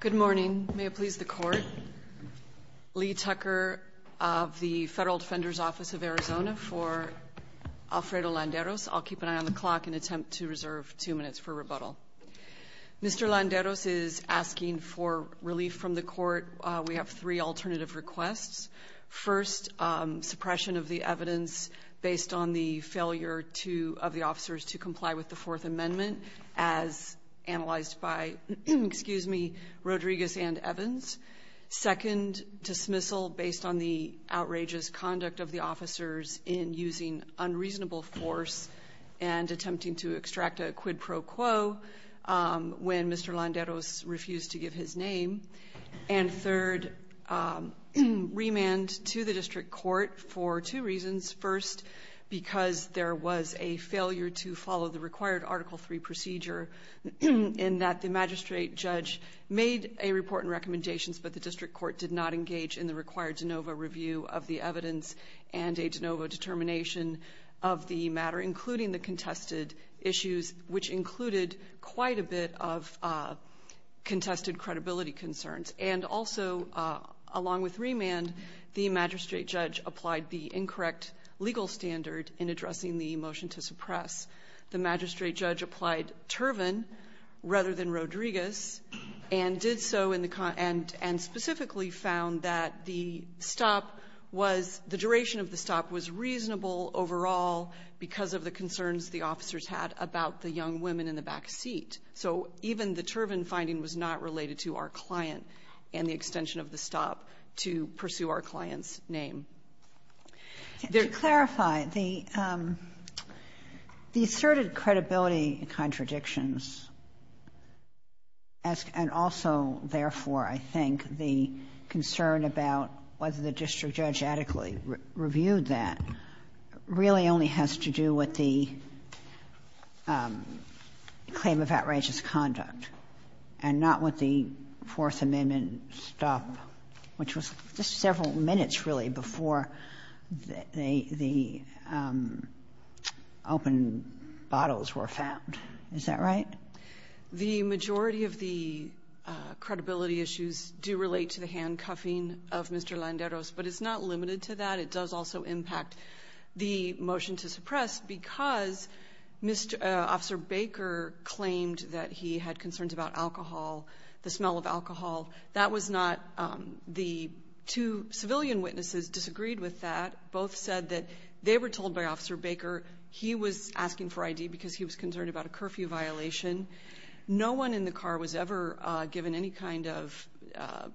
Good morning. May it please the Court. Lee Tucker of the Federal Defender's Office of Arizona for Alfredo Landeros. I'll keep an eye on the clock and attempt to reserve two minutes for rebuttal. Mr. Landeros is asking for relief from the Court. We have three alternative requests. First, suppression of the evidence based on the failure of the officers to comply with the Fourth Amendment as analyzed by, excuse me, Rodriguez and Evans. Second, dismissal based on the outrageous conduct of the officers in using unreasonable force and attempting to extract a quid pro quo when Mr. Landeros refused to give his name. And third, remand to the District Court for two reasons. First, because there was a failure to follow the required Article III procedure in that the magistrate judge made a report and recommendations, but the District Court did not engage in the required de novo review of the evidence and a de novo determination of the matter, including the contested issues, which included quite a bit of contested credibility concerns. And also, along with remand, the magistrate judge applied the incorrect legal standard in addressing the motion to suppress. The magistrate judge applied Turvin rather than Rodriguez and did so and specifically found that the duration of the stop was reasonable overall because of the concerns the officers had about the young women in the back seat. So even the Turvin finding was not related to our client and the extension of the stop to pursue our client's name. Kagan. To clarify, the asserted credibility contradictions and also, therefore, I think the concern about whether the district judge adequately reviewed that really only has to do with the claim of outrageous conduct and not with the Fourth Amendment stop, which was just several minutes, really, before the open bottles were found. Is that right? The majority of the credibility issues do relate to the handcuffing of Mr. Landeros, but it's not limited to that. It does also impact the motion to suppress because Officer Baker claimed that he had concerns about alcohol, the smell of alcohol. That was not the two civilian witnesses disagreed with that. Both said that they were told by Officer Baker he was asking for ID because he was concerned about a curfew violation. No one in the car was ever given any kind of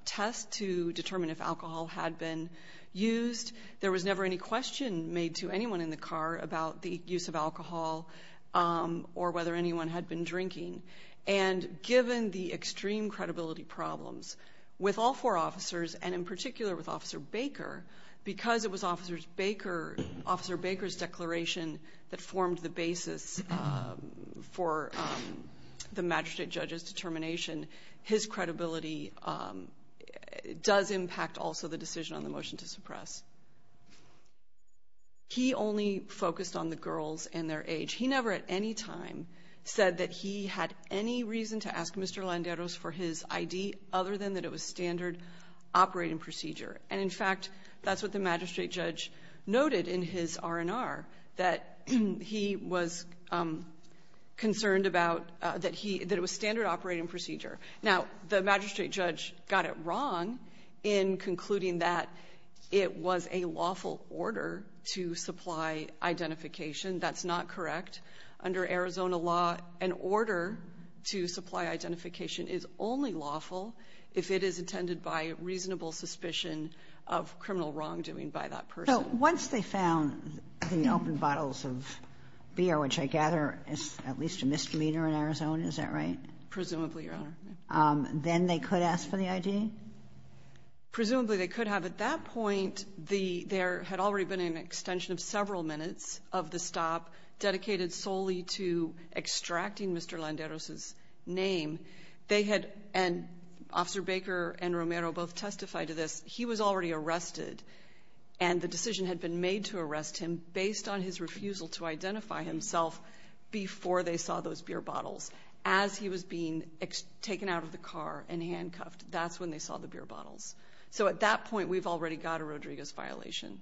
test to determine if alcohol had been used. There was never any question made to anyone in the car about the use of alcohol or whether anyone had been drinking. And given the extreme credibility problems with all four officers, and in particular with Officer Baker, because it was Officer Baker's declaration that formed the basis for the magistrate judge's determination, his credibility does impact also the decision on the motion to suppress. He only focused on the girls and their age. He never at any time said that he had any reason to ask Mr. Landeros for his ID other than that it was standard operating procedure. And in fact, that's what the magistrate judge noted in his R&R, that he was concerned about that it was standard operating procedure. Now, the magistrate judge got it wrong in concluding that it was a lawful order to supply identification. That's not correct. Under Arizona law, an order to supply identification is only lawful if it is intended by reasonable suspicion of criminal wrongdoing by that person. So once they found the open bottles of beer, which I gather is at least a misdemeanor in Arizona, is that right? Presumably, Your Honor. Then they could ask for the ID? Presumably, they could have. At that point, there had already been an extension of several minutes of the stop dedicated solely to extracting Mr. Landeros' name. They had, and Officer Baker and Romero both testified to this, he was already arrested and the decision had been made to arrest him based on his refusal to identify himself before they saw those beer bottles. As he was being taken out of the car and handcuffed, that's when they saw the beer bottles. So at that point, we've already got a Rodriguez violation.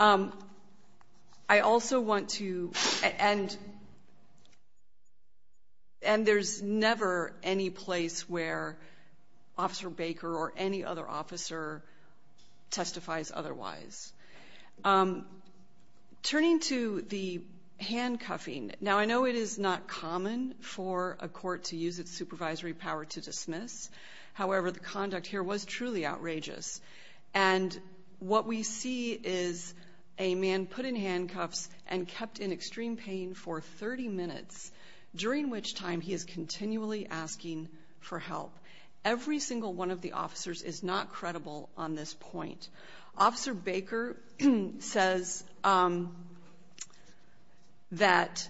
I also want to, and there's never any place where Officer Baker or any other officer testifies otherwise. Turning to the handcuffing, now I know it is not common for a court to use its supervisory power to dismiss. However, the conduct here was truly outrageous. And what we see is a man put in handcuffs and kept in extreme pain for 30 minutes, during which time he is continually asking for help. Every single one of the officers is not credible on this point. Officer Baker says that,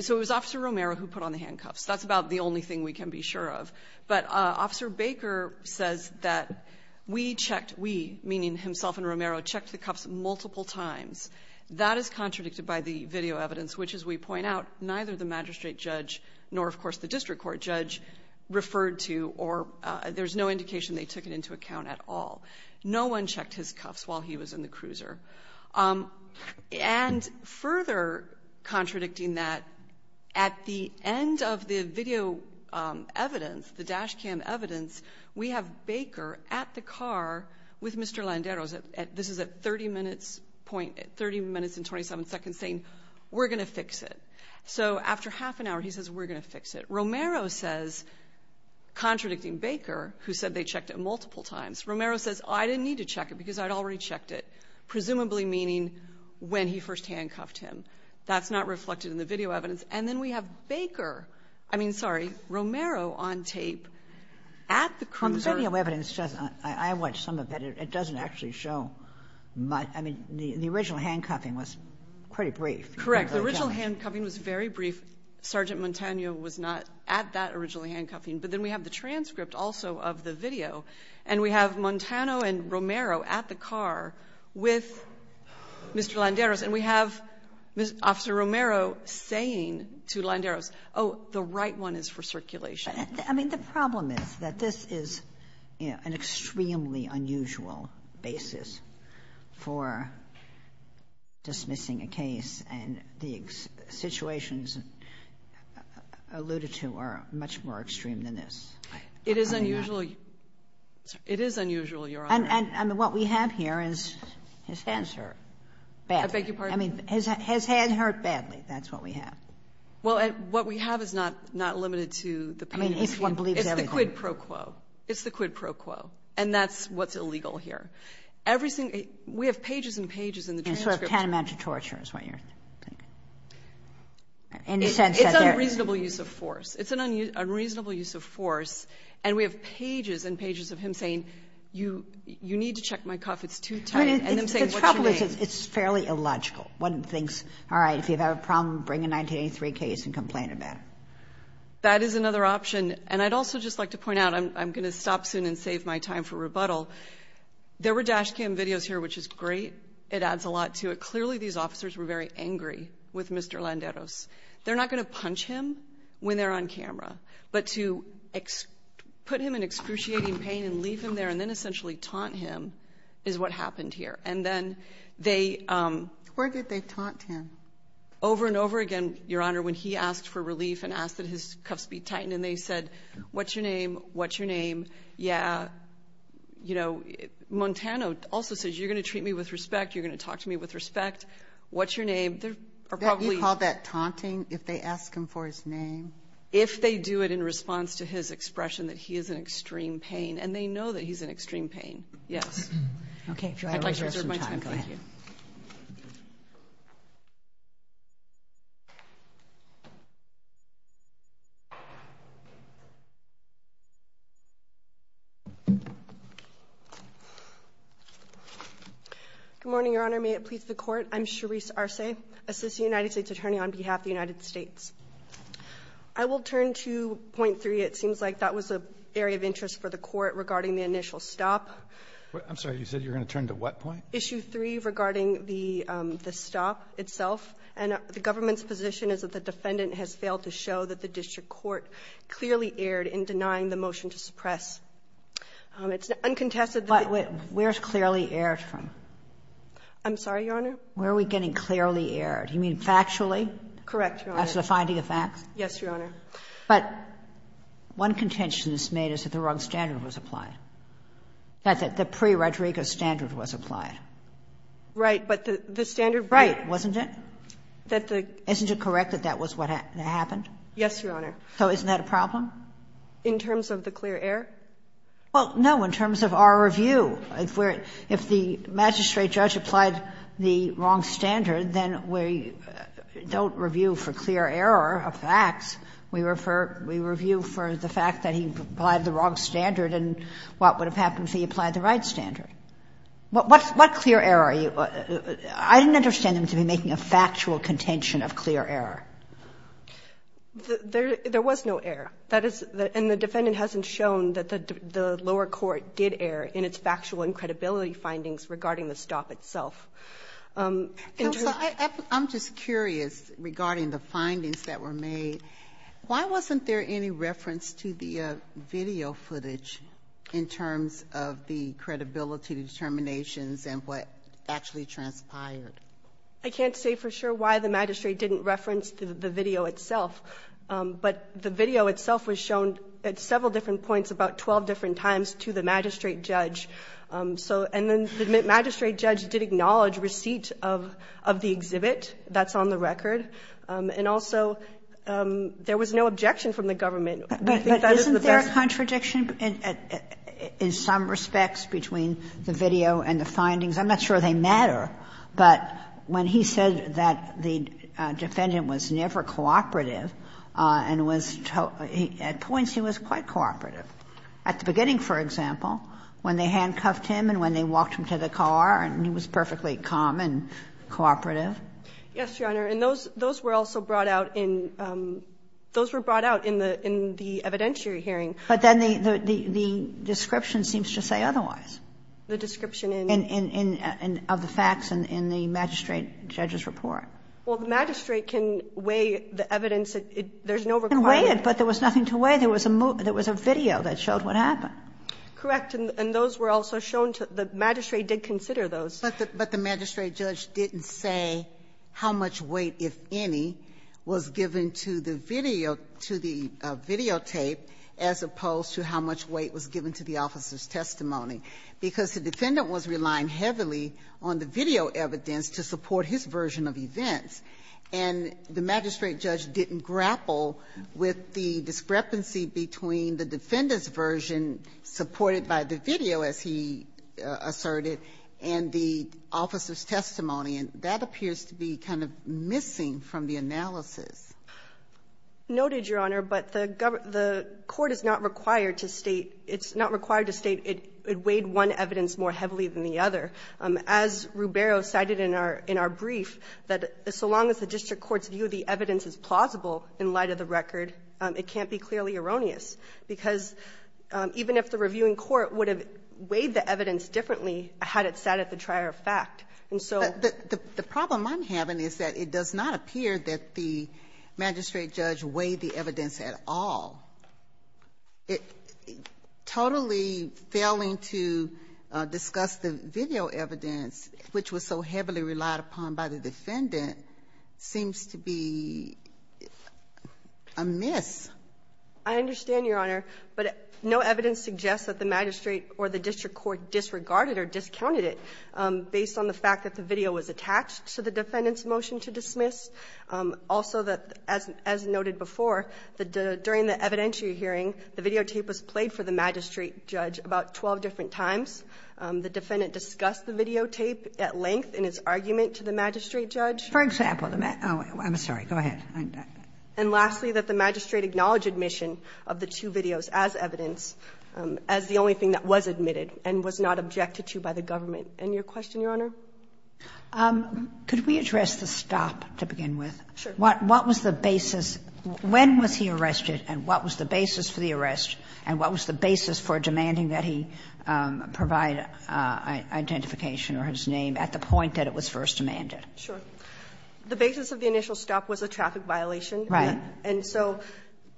so it was Officer Romero who put on the handcuffs. That's about the only thing we can be sure of. But Officer Baker says that we checked, we, meaning himself and Romero, checked the cuffs multiple times. That is contradicted by the video evidence, which, as we point out, neither the magistrate judge nor, of course, the district court judge referred to or there's no indication they took it into account at all. No one checked his cuffs while he was in the cruiser. And further contradicting that, at the end of the video evidence, the dash cam evidence, we have Baker at the car with Mr. Landeros. This is at 30 minutes and 27 seconds saying, we're going to fix it. So after half an hour, he says, we're going to fix it. Romero says, contradicting Baker, who said they checked it multiple times, Romero says, I didn't need to check it because I'd already checked it, presumably meaning when he first handcuffed him. That's not reflected in the video evidence. And then we have Baker, I mean, sorry, Romero on tape at the cruiser. Kagan. On the video evidence, I watched some of it. It doesn't actually show much. I mean, the original handcuffing was pretty brief. Correct. The original handcuffing was very brief. Sergeant Montano was not at that original handcuffing. But then we have the transcript also of the video. And we have Montano and Romero at the car with Mr. Landeros. And we have Officer Romero saying to Landeros, oh, the right one is for circulation. I mean, the problem is that this is an extremely unusual basis for dismissing a case, and the situations alluded to are much more extreme than this. It is unusual. It is unusual, Your Honor. And what we have here is his hands hurt badly. I beg your pardon? I mean, his hands hurt badly. That's what we have. Well, what we have is not limited to the pain. I mean, if one believes everything. It's the quid pro quo. It's the quid pro quo. And that's what's illegal here. Everything we have pages and pages in the transcript. And sort of tantamount to torture is what you're saying. In the sense that there is. It's unreasonable use of force. It's an unreasonable use of force. And we have pages and pages of him saying, you need to check my cuff. It's too tight. And I'm saying, what's your name? The trouble is it's fairly illogical. One thinks, all right, if you have a problem, bring a 1983 case and complain about it. That is another option. And I'd also just like to point out, I'm going to stop soon and save my time for rebuttal. There were dash cam videos here, which is great. It adds a lot to it. Clearly, these officers were very angry with Mr. Landeros. They're not going to punch him when they're on camera. But to put him in excruciating pain and leave him there and then essentially taunt him is what happened here. And then they ‑‑ Where did they taunt him? Over and over again, Your Honor, when he asked for relief and asked that his cuffs be tightened. And they said, what's your name? What's your name? Yeah, you know, Montano also says, you're going to treat me with respect. You're going to talk to me with respect. What's your name? You call that taunting if they ask him for his name? If they do it in response to his expression that he is in extreme pain. And they know that he's in extreme pain, yes. Okay. I'd like to reserve my time. Thank you. Good morning, Your Honor. May it please the Court. I'm Sharice Arce, Assistant United States Attorney on behalf of the United States. I will turn to point three. It seems like that was an area of interest for the Court regarding the initial stop. I'm sorry. You said you were going to turn to what point? Issue three regarding the stop itself. And the government's position is that the defendant has failed to show that the district court clearly erred in denying the motion to suppress. It's uncontested that ‑‑ But where is clearly erred from? I'm sorry, Your Honor? Where are we getting clearly erred? You mean factually? Correct, Your Honor. After the finding of facts? Yes, Your Honor. But one contention that's made is that the wrong standard was applied, that the pre-Rodrigo standard was applied. Right. But the standard ‑‑ Right, wasn't it? Isn't it correct that that was what happened? Yes, Your Honor. So isn't that a problem? In terms of the clear error? Well, no, in terms of our review. If the magistrate judge applied the wrong standard, then we don't review for clear error of facts. We refer ‑‑ we review for the fact that he applied the wrong standard and what would have happened if he applied the right standard. What clear error are you ‑‑ I didn't understand them to be making a factual contention of clear error. There was no error. And the defendant hasn't shown that the lower court did err in its factual and credibility findings regarding the stop itself. Counsel, I'm just curious regarding the findings that were made. Why wasn't there any reference to the video footage in terms of the credibility determinations and what actually transpired? I can't say for sure why the magistrate didn't reference the video itself. But the video itself was shown at several different points about 12 different times to the magistrate judge. So ‑‑ and then the magistrate judge did acknowledge receipt of the exhibit that's on the record. And also, there was no objection from the government. I think that is the best ‑‑ But isn't there a contradiction in some respects between the video and the findings? I'm not sure they matter. But when he said that the defendant was never cooperative and was ‑‑ at points he was quite cooperative. At the beginning, for example, when they handcuffed him and when they walked him to the car, he was perfectly calm and cooperative. Yes, Your Honor. And those were also brought out in ‑‑ those were brought out in the evidentiary hearing. But then the description seems to say otherwise. The description in ‑‑ of the facts in the magistrate judge's report. Well, the magistrate can weigh the evidence. There's no requirement. It can weigh it, but there was nothing to weigh. There was a video that showed what happened. Correct. And those were also shown to ‑‑ the magistrate did consider those. But the magistrate judge didn't say how much weight, if any, was given to the videotape as opposed to how much weight was given to the officer's testimony. Because the defendant was relying heavily on the video evidence to support his version of events. And the magistrate judge didn't grapple with the discrepancy between the defendant's version supported by the video, as he asserted, and the officer's testimony. And that appears to be kind of missing from the analysis. Noted, Your Honor. But the court is not required to state ‑‑ it's not required to state it weighed one evidence more heavily than the other. As Ruberio cited in our brief, that so long as the district court's view of the evidence is plausible in light of the record, it can't be clearly erroneous. Because even if the reviewing court would have weighed the evidence differently had it sat at the trier of fact. And so ‑‑ The problem I'm having is that it does not appear that the magistrate judge weighed the evidence at all. It totally failing to discuss the video evidence, which was so heavily relied upon by the defendant, seems to be a miss. I understand, Your Honor. But no evidence suggests that the magistrate or the district court disregarded or discounted it based on the fact that the video was attached to the defendant's motion to dismiss. Also, as noted before, during the evidentiary hearing, the videotape was played for the magistrate judge about 12 different times. The defendant discussed the videotape at length in his argument to the magistrate judge. For example ‑‑ I'm sorry. Go ahead. And lastly, that the magistrate acknowledged admission of the two videos as evidence as the only thing that was admitted and was not objected to by the government. And your question, Your Honor? Could we address the stop to begin with? Sure. What was the basis? When was he arrested, and what was the basis for the arrest, and what was the basis for demanding that he provide identification or his name at the point that it was first demanded? Sure. The basis of the initial stop was a traffic violation. Right. And so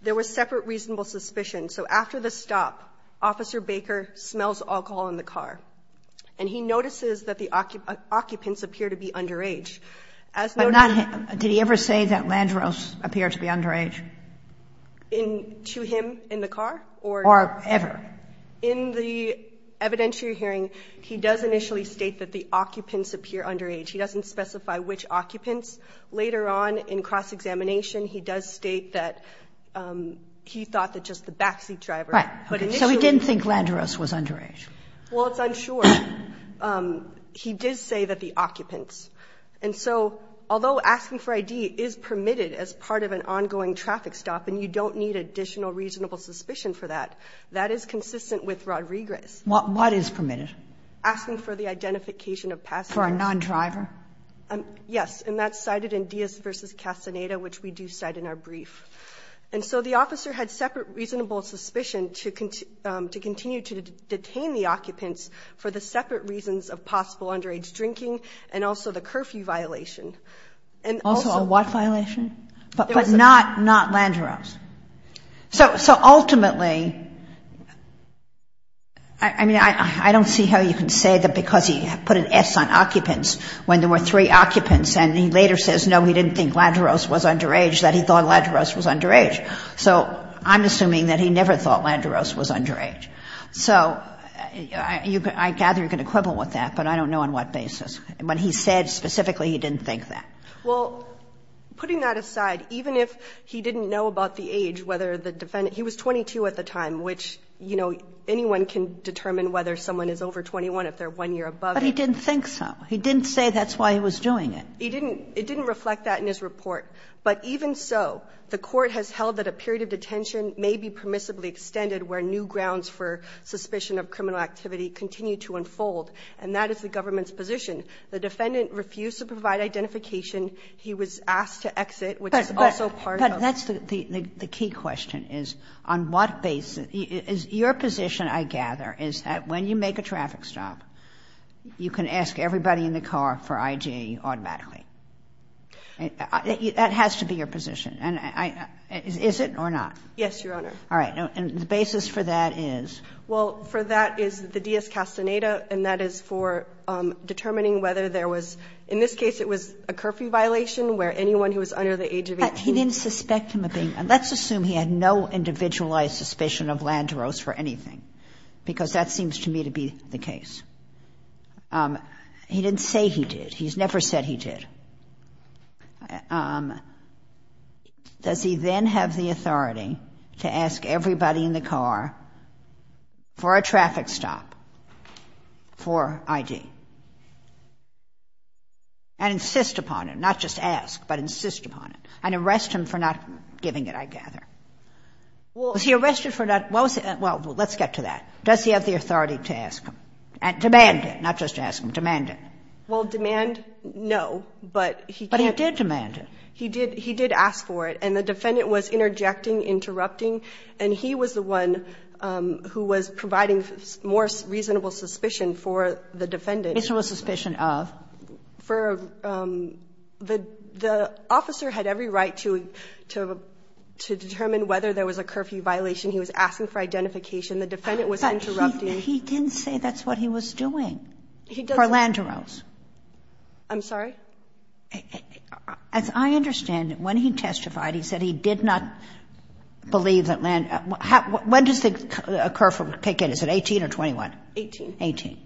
there was separate reasonable suspicion. So after the stop, Officer Baker smells alcohol in the car. And he notices that the occupants appear to be underage. Did he ever say that Landros appeared to be underage? To him in the car? Or ever. In the evidentiary hearing, he does initially state that the occupants appear underage. He doesn't specify which occupants. Later on in cross-examination, he does state that he thought that just the backseat driver. So he didn't think Landros was underage. Well, it's unsure. He did say that the occupants. And so although asking for ID is permitted as part of an ongoing traffic stop, and you don't need additional reasonable suspicion for that, that is consistent with rodriguez. What is permitted? Asking for the identification of passengers. For a nondriver? Yes. And that's cited in Diaz v. Castaneda, which we do cite in our brief. And so the officer had separate reasonable suspicion to continue to detain the occupants for the separate reasons of possible underage drinking and also the curfew violation. Also a what violation? But not Landros. So ultimately, I mean, I don't see how you can say that because he put an S on occupants when there were three occupants and he later says, no, he didn't think Landros was underage, that he thought Landros was underage. So I'm assuming that he never thought Landros was underage. So I gather you can equivalent with that, but I don't know on what basis. When he said specifically he didn't think that. Well, putting that aside, even if he didn't know about the age, whether the defendant he was 22 at the time, which, you know, anyone can determine whether someone is over 21 if they're one year above it. But he didn't think so. He didn't say that's why he was doing it. He didn't. It didn't reflect that in his report. But even so, the Court has held that a period of detention may be permissibly extended where new grounds for suspicion of criminal activity continue to unfold, and that is the government's position. The defendant refused to provide identification. He was asked to exit, which is also part of the case. Kagan. Kagan. Kagan. Kagan. Kagan. Kagan. Kagan. Kagan. Kagan. Kagan. Kagan. Kagan. Kagan. Kagan. Kagan. Kagan. Kagan. Kagan. The basis for that is? Well, for that is the dias-castaneta, and that is for determining whether there was – in this case, it was a curfew violation, where anyone who was under the age of 18 – let's assume he had no individualized suspicion of Landerose for anything, because that seems to me to be the case. He didn't say he did. He's never said he did. Does he then have the authority to ask everybody in the car for a traffic stop for I.D.? And not just ask, but insist upon it, and arrest him for not giving it, I gather? Well – Was he arrested for not – well, let's get to that. Does he have the authority to ask him? Demand it, not just ask him. Demand it. Well, demand, no, but he did. But he did demand it. He did ask for it, and the defendant was interjecting, interrupting, and he was the one who was providing more reasonable suspicion for the defendant. Reasonable suspicion of? For – the officer had every right to determine whether there was a curfew violation. He was asking for identification. The defendant was interrupting. But he didn't say that's what he was doing for Landerose. I'm sorry? As I understand it, when he testified, he said he did not believe that Landerose – when does the curfew kick in? Is it 18 or 21? 18. 18.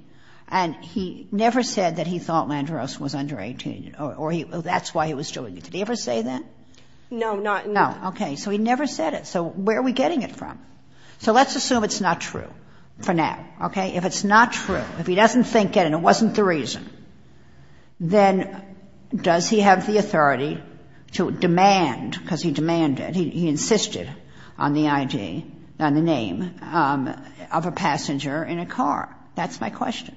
And he never said that he thought Landerose was under 18, or that's why he was doing it. Did he ever say that? No, not – No. Okay. So he never said it. So where are we getting it from? So let's assume it's not true for now, okay? If it's not true, if he doesn't think it and it wasn't the reason, then does he have the authority to demand, because he demanded, he insisted on the ID, on the question,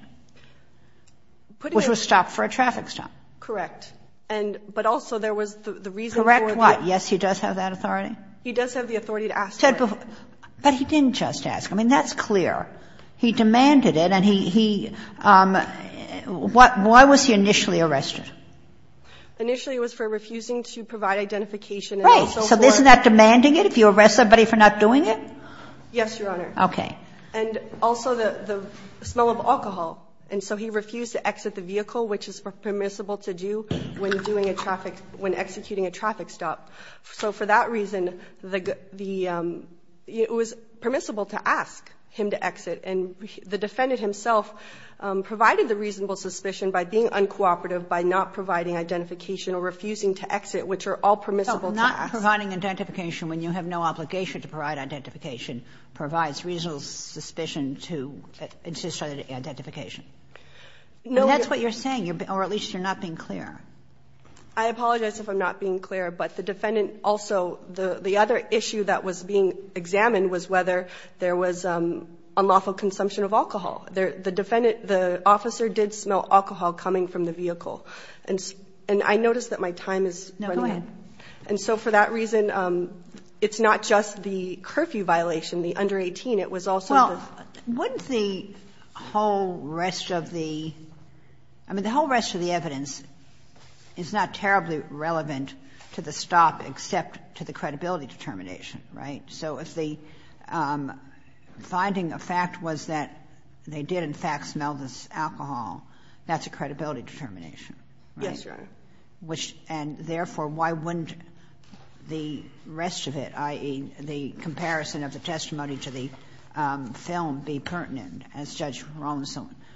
which was stopped for a traffic stop. Correct. And – but also there was the reason for the – Correct what? Yes, he does have that authority? He does have the authority to ask for it. But he didn't just ask. I mean, that's clear. He demanded it, and he – why was he initially arrested? Initially it was for refusing to provide identification and also for – Right. So isn't that demanding it, if you arrest somebody for not doing it? Yes, Your Honor. Okay. And also the – the smell of alcohol. And so he refused to exit the vehicle, which is permissible to do when doing a traffic – when executing a traffic stop. So for that reason, the – it was permissible to ask him to exit. And the defendant himself provided the reasonable suspicion by being uncooperative by not providing identification or refusing to exit, which are all permissible to ask. So not providing identification when you have no obligation to provide identification provides reasonable suspicion to – to start an identification. No. And that's what you're saying, or at least you're not being clear. I apologize if I'm not being clear. But the defendant also – the other issue that was being examined was whether there was unlawful consumption of alcohol. The defendant – the officer did smell alcohol coming from the vehicle. And I noticed that my time is running out. No, go ahead. And so for that reason, it's not just the curfew violation, the under 18. It was also the – Well, wouldn't the whole rest of the – I mean, the whole rest of the evidence is not terribly relevant to the stop except to the credibility determination, right? So if the finding of fact was that they did, in fact, smell this alcohol, that's a credibility determination, right? Yes, Your Honor. Which – and therefore, why wouldn't the rest of it, i.e., the comparison of the testimony to the film be pertinent, as Judge Rawlinson –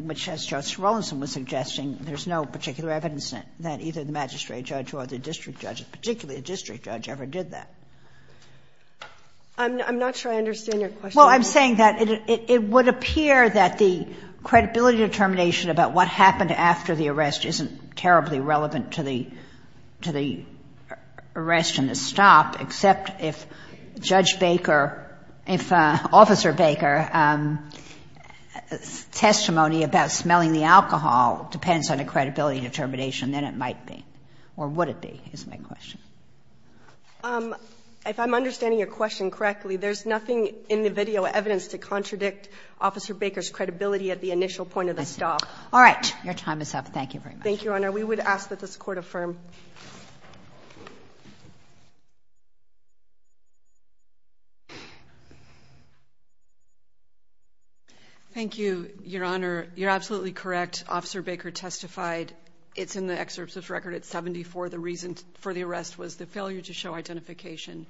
which, as Judge Rawlinson was suggesting, there's no particular evidence that either the magistrate judge or the district judge, particularly the district judge, ever did that? I'm not sure I understand your question. Well, I'm saying that it would appear that the credibility determination about what happened after the arrest isn't terribly relevant to the – to the arrest and the stop, except if Judge Baker – if Officer Baker's testimony about smelling the alcohol depends on a credibility determination, then it might be, or would it be, is my question. If I'm understanding your question correctly, there's nothing in the video evidence to contradict Officer Baker's credibility at the initial point of the stop. All right. Your time is up. Thank you very much. Thank you, Your Honor. We would ask that this Court affirm. Thank you, Your Honor. You're absolutely correct. Officer Baker testified. It's in the excerpt of his record at 74. The reason for the arrest was the failure to show identification.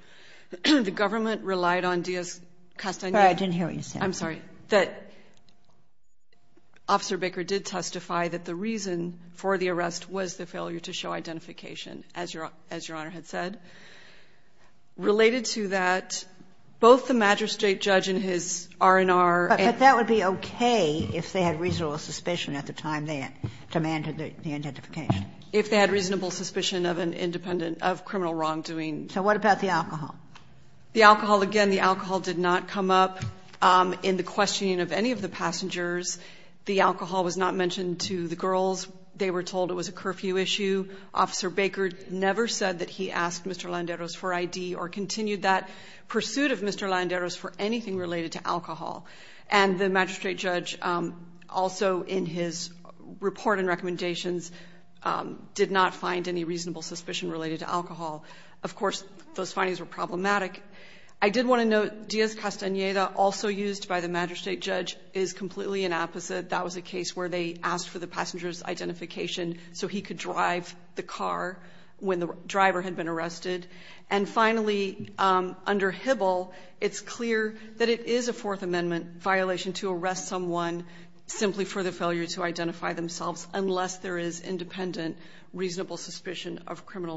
The government relied on Diaz-Castaneda – I'm sorry. I'm sorry. That Officer Baker did testify that the reason for the arrest was the failure to show identification, as Your Honor had said. Related to that, both the magistrate judge and his R&R – But that would be okay if they had reasonable suspicion at the time they demanded the identification. If they had reasonable suspicion of an independent – of criminal wrongdoing. So what about the alcohol? The alcohol – again, the alcohol did not come up in the questioning of any of the passengers. The alcohol was not mentioned to the girls. They were told it was a curfew issue. Officer Baker never said that he asked Mr. Landeros for ID or continued that pursuit of Mr. Landeros for anything related to alcohol. And the magistrate judge, also in his report and recommendations, did not find any reasonable suspicion related to alcohol. Of course, those findings were problematic. I did want to note Diaz-Castaneda, also used by the magistrate judge, is completely an opposite. That was a case where they asked for the passenger's identification so he could drive the car when the driver had been arrested. And finally, under Hibble, it's clear that it is a Fourth Amendment violation to arrest someone simply for the failure to identify themselves unless there is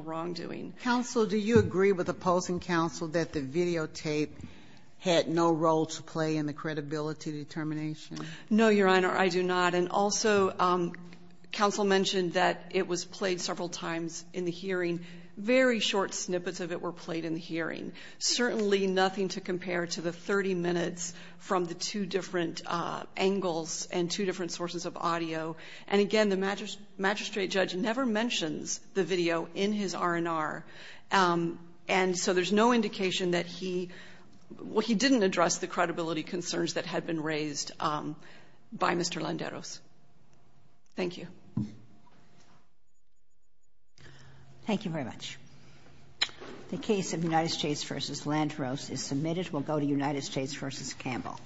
wrongdoing. Counsel, do you agree with opposing counsel that the videotape had no role to play in the credibility determination? No, Your Honor, I do not. And also, counsel mentioned that it was played several times in the hearing. Very short snippets of it were played in the hearing. Certainly nothing to compare to the 30 minutes from the two different angles and two different sources of audio. And again, the magistrate judge never mentions the video in his R&R. And so there's no indication that he – well, he didn't address the credibility concerns that had been raised by Mr. Landeros. Thank you. Thank you very much. The case of United States v. Landros is submitted. We'll go to United States v. Campbell.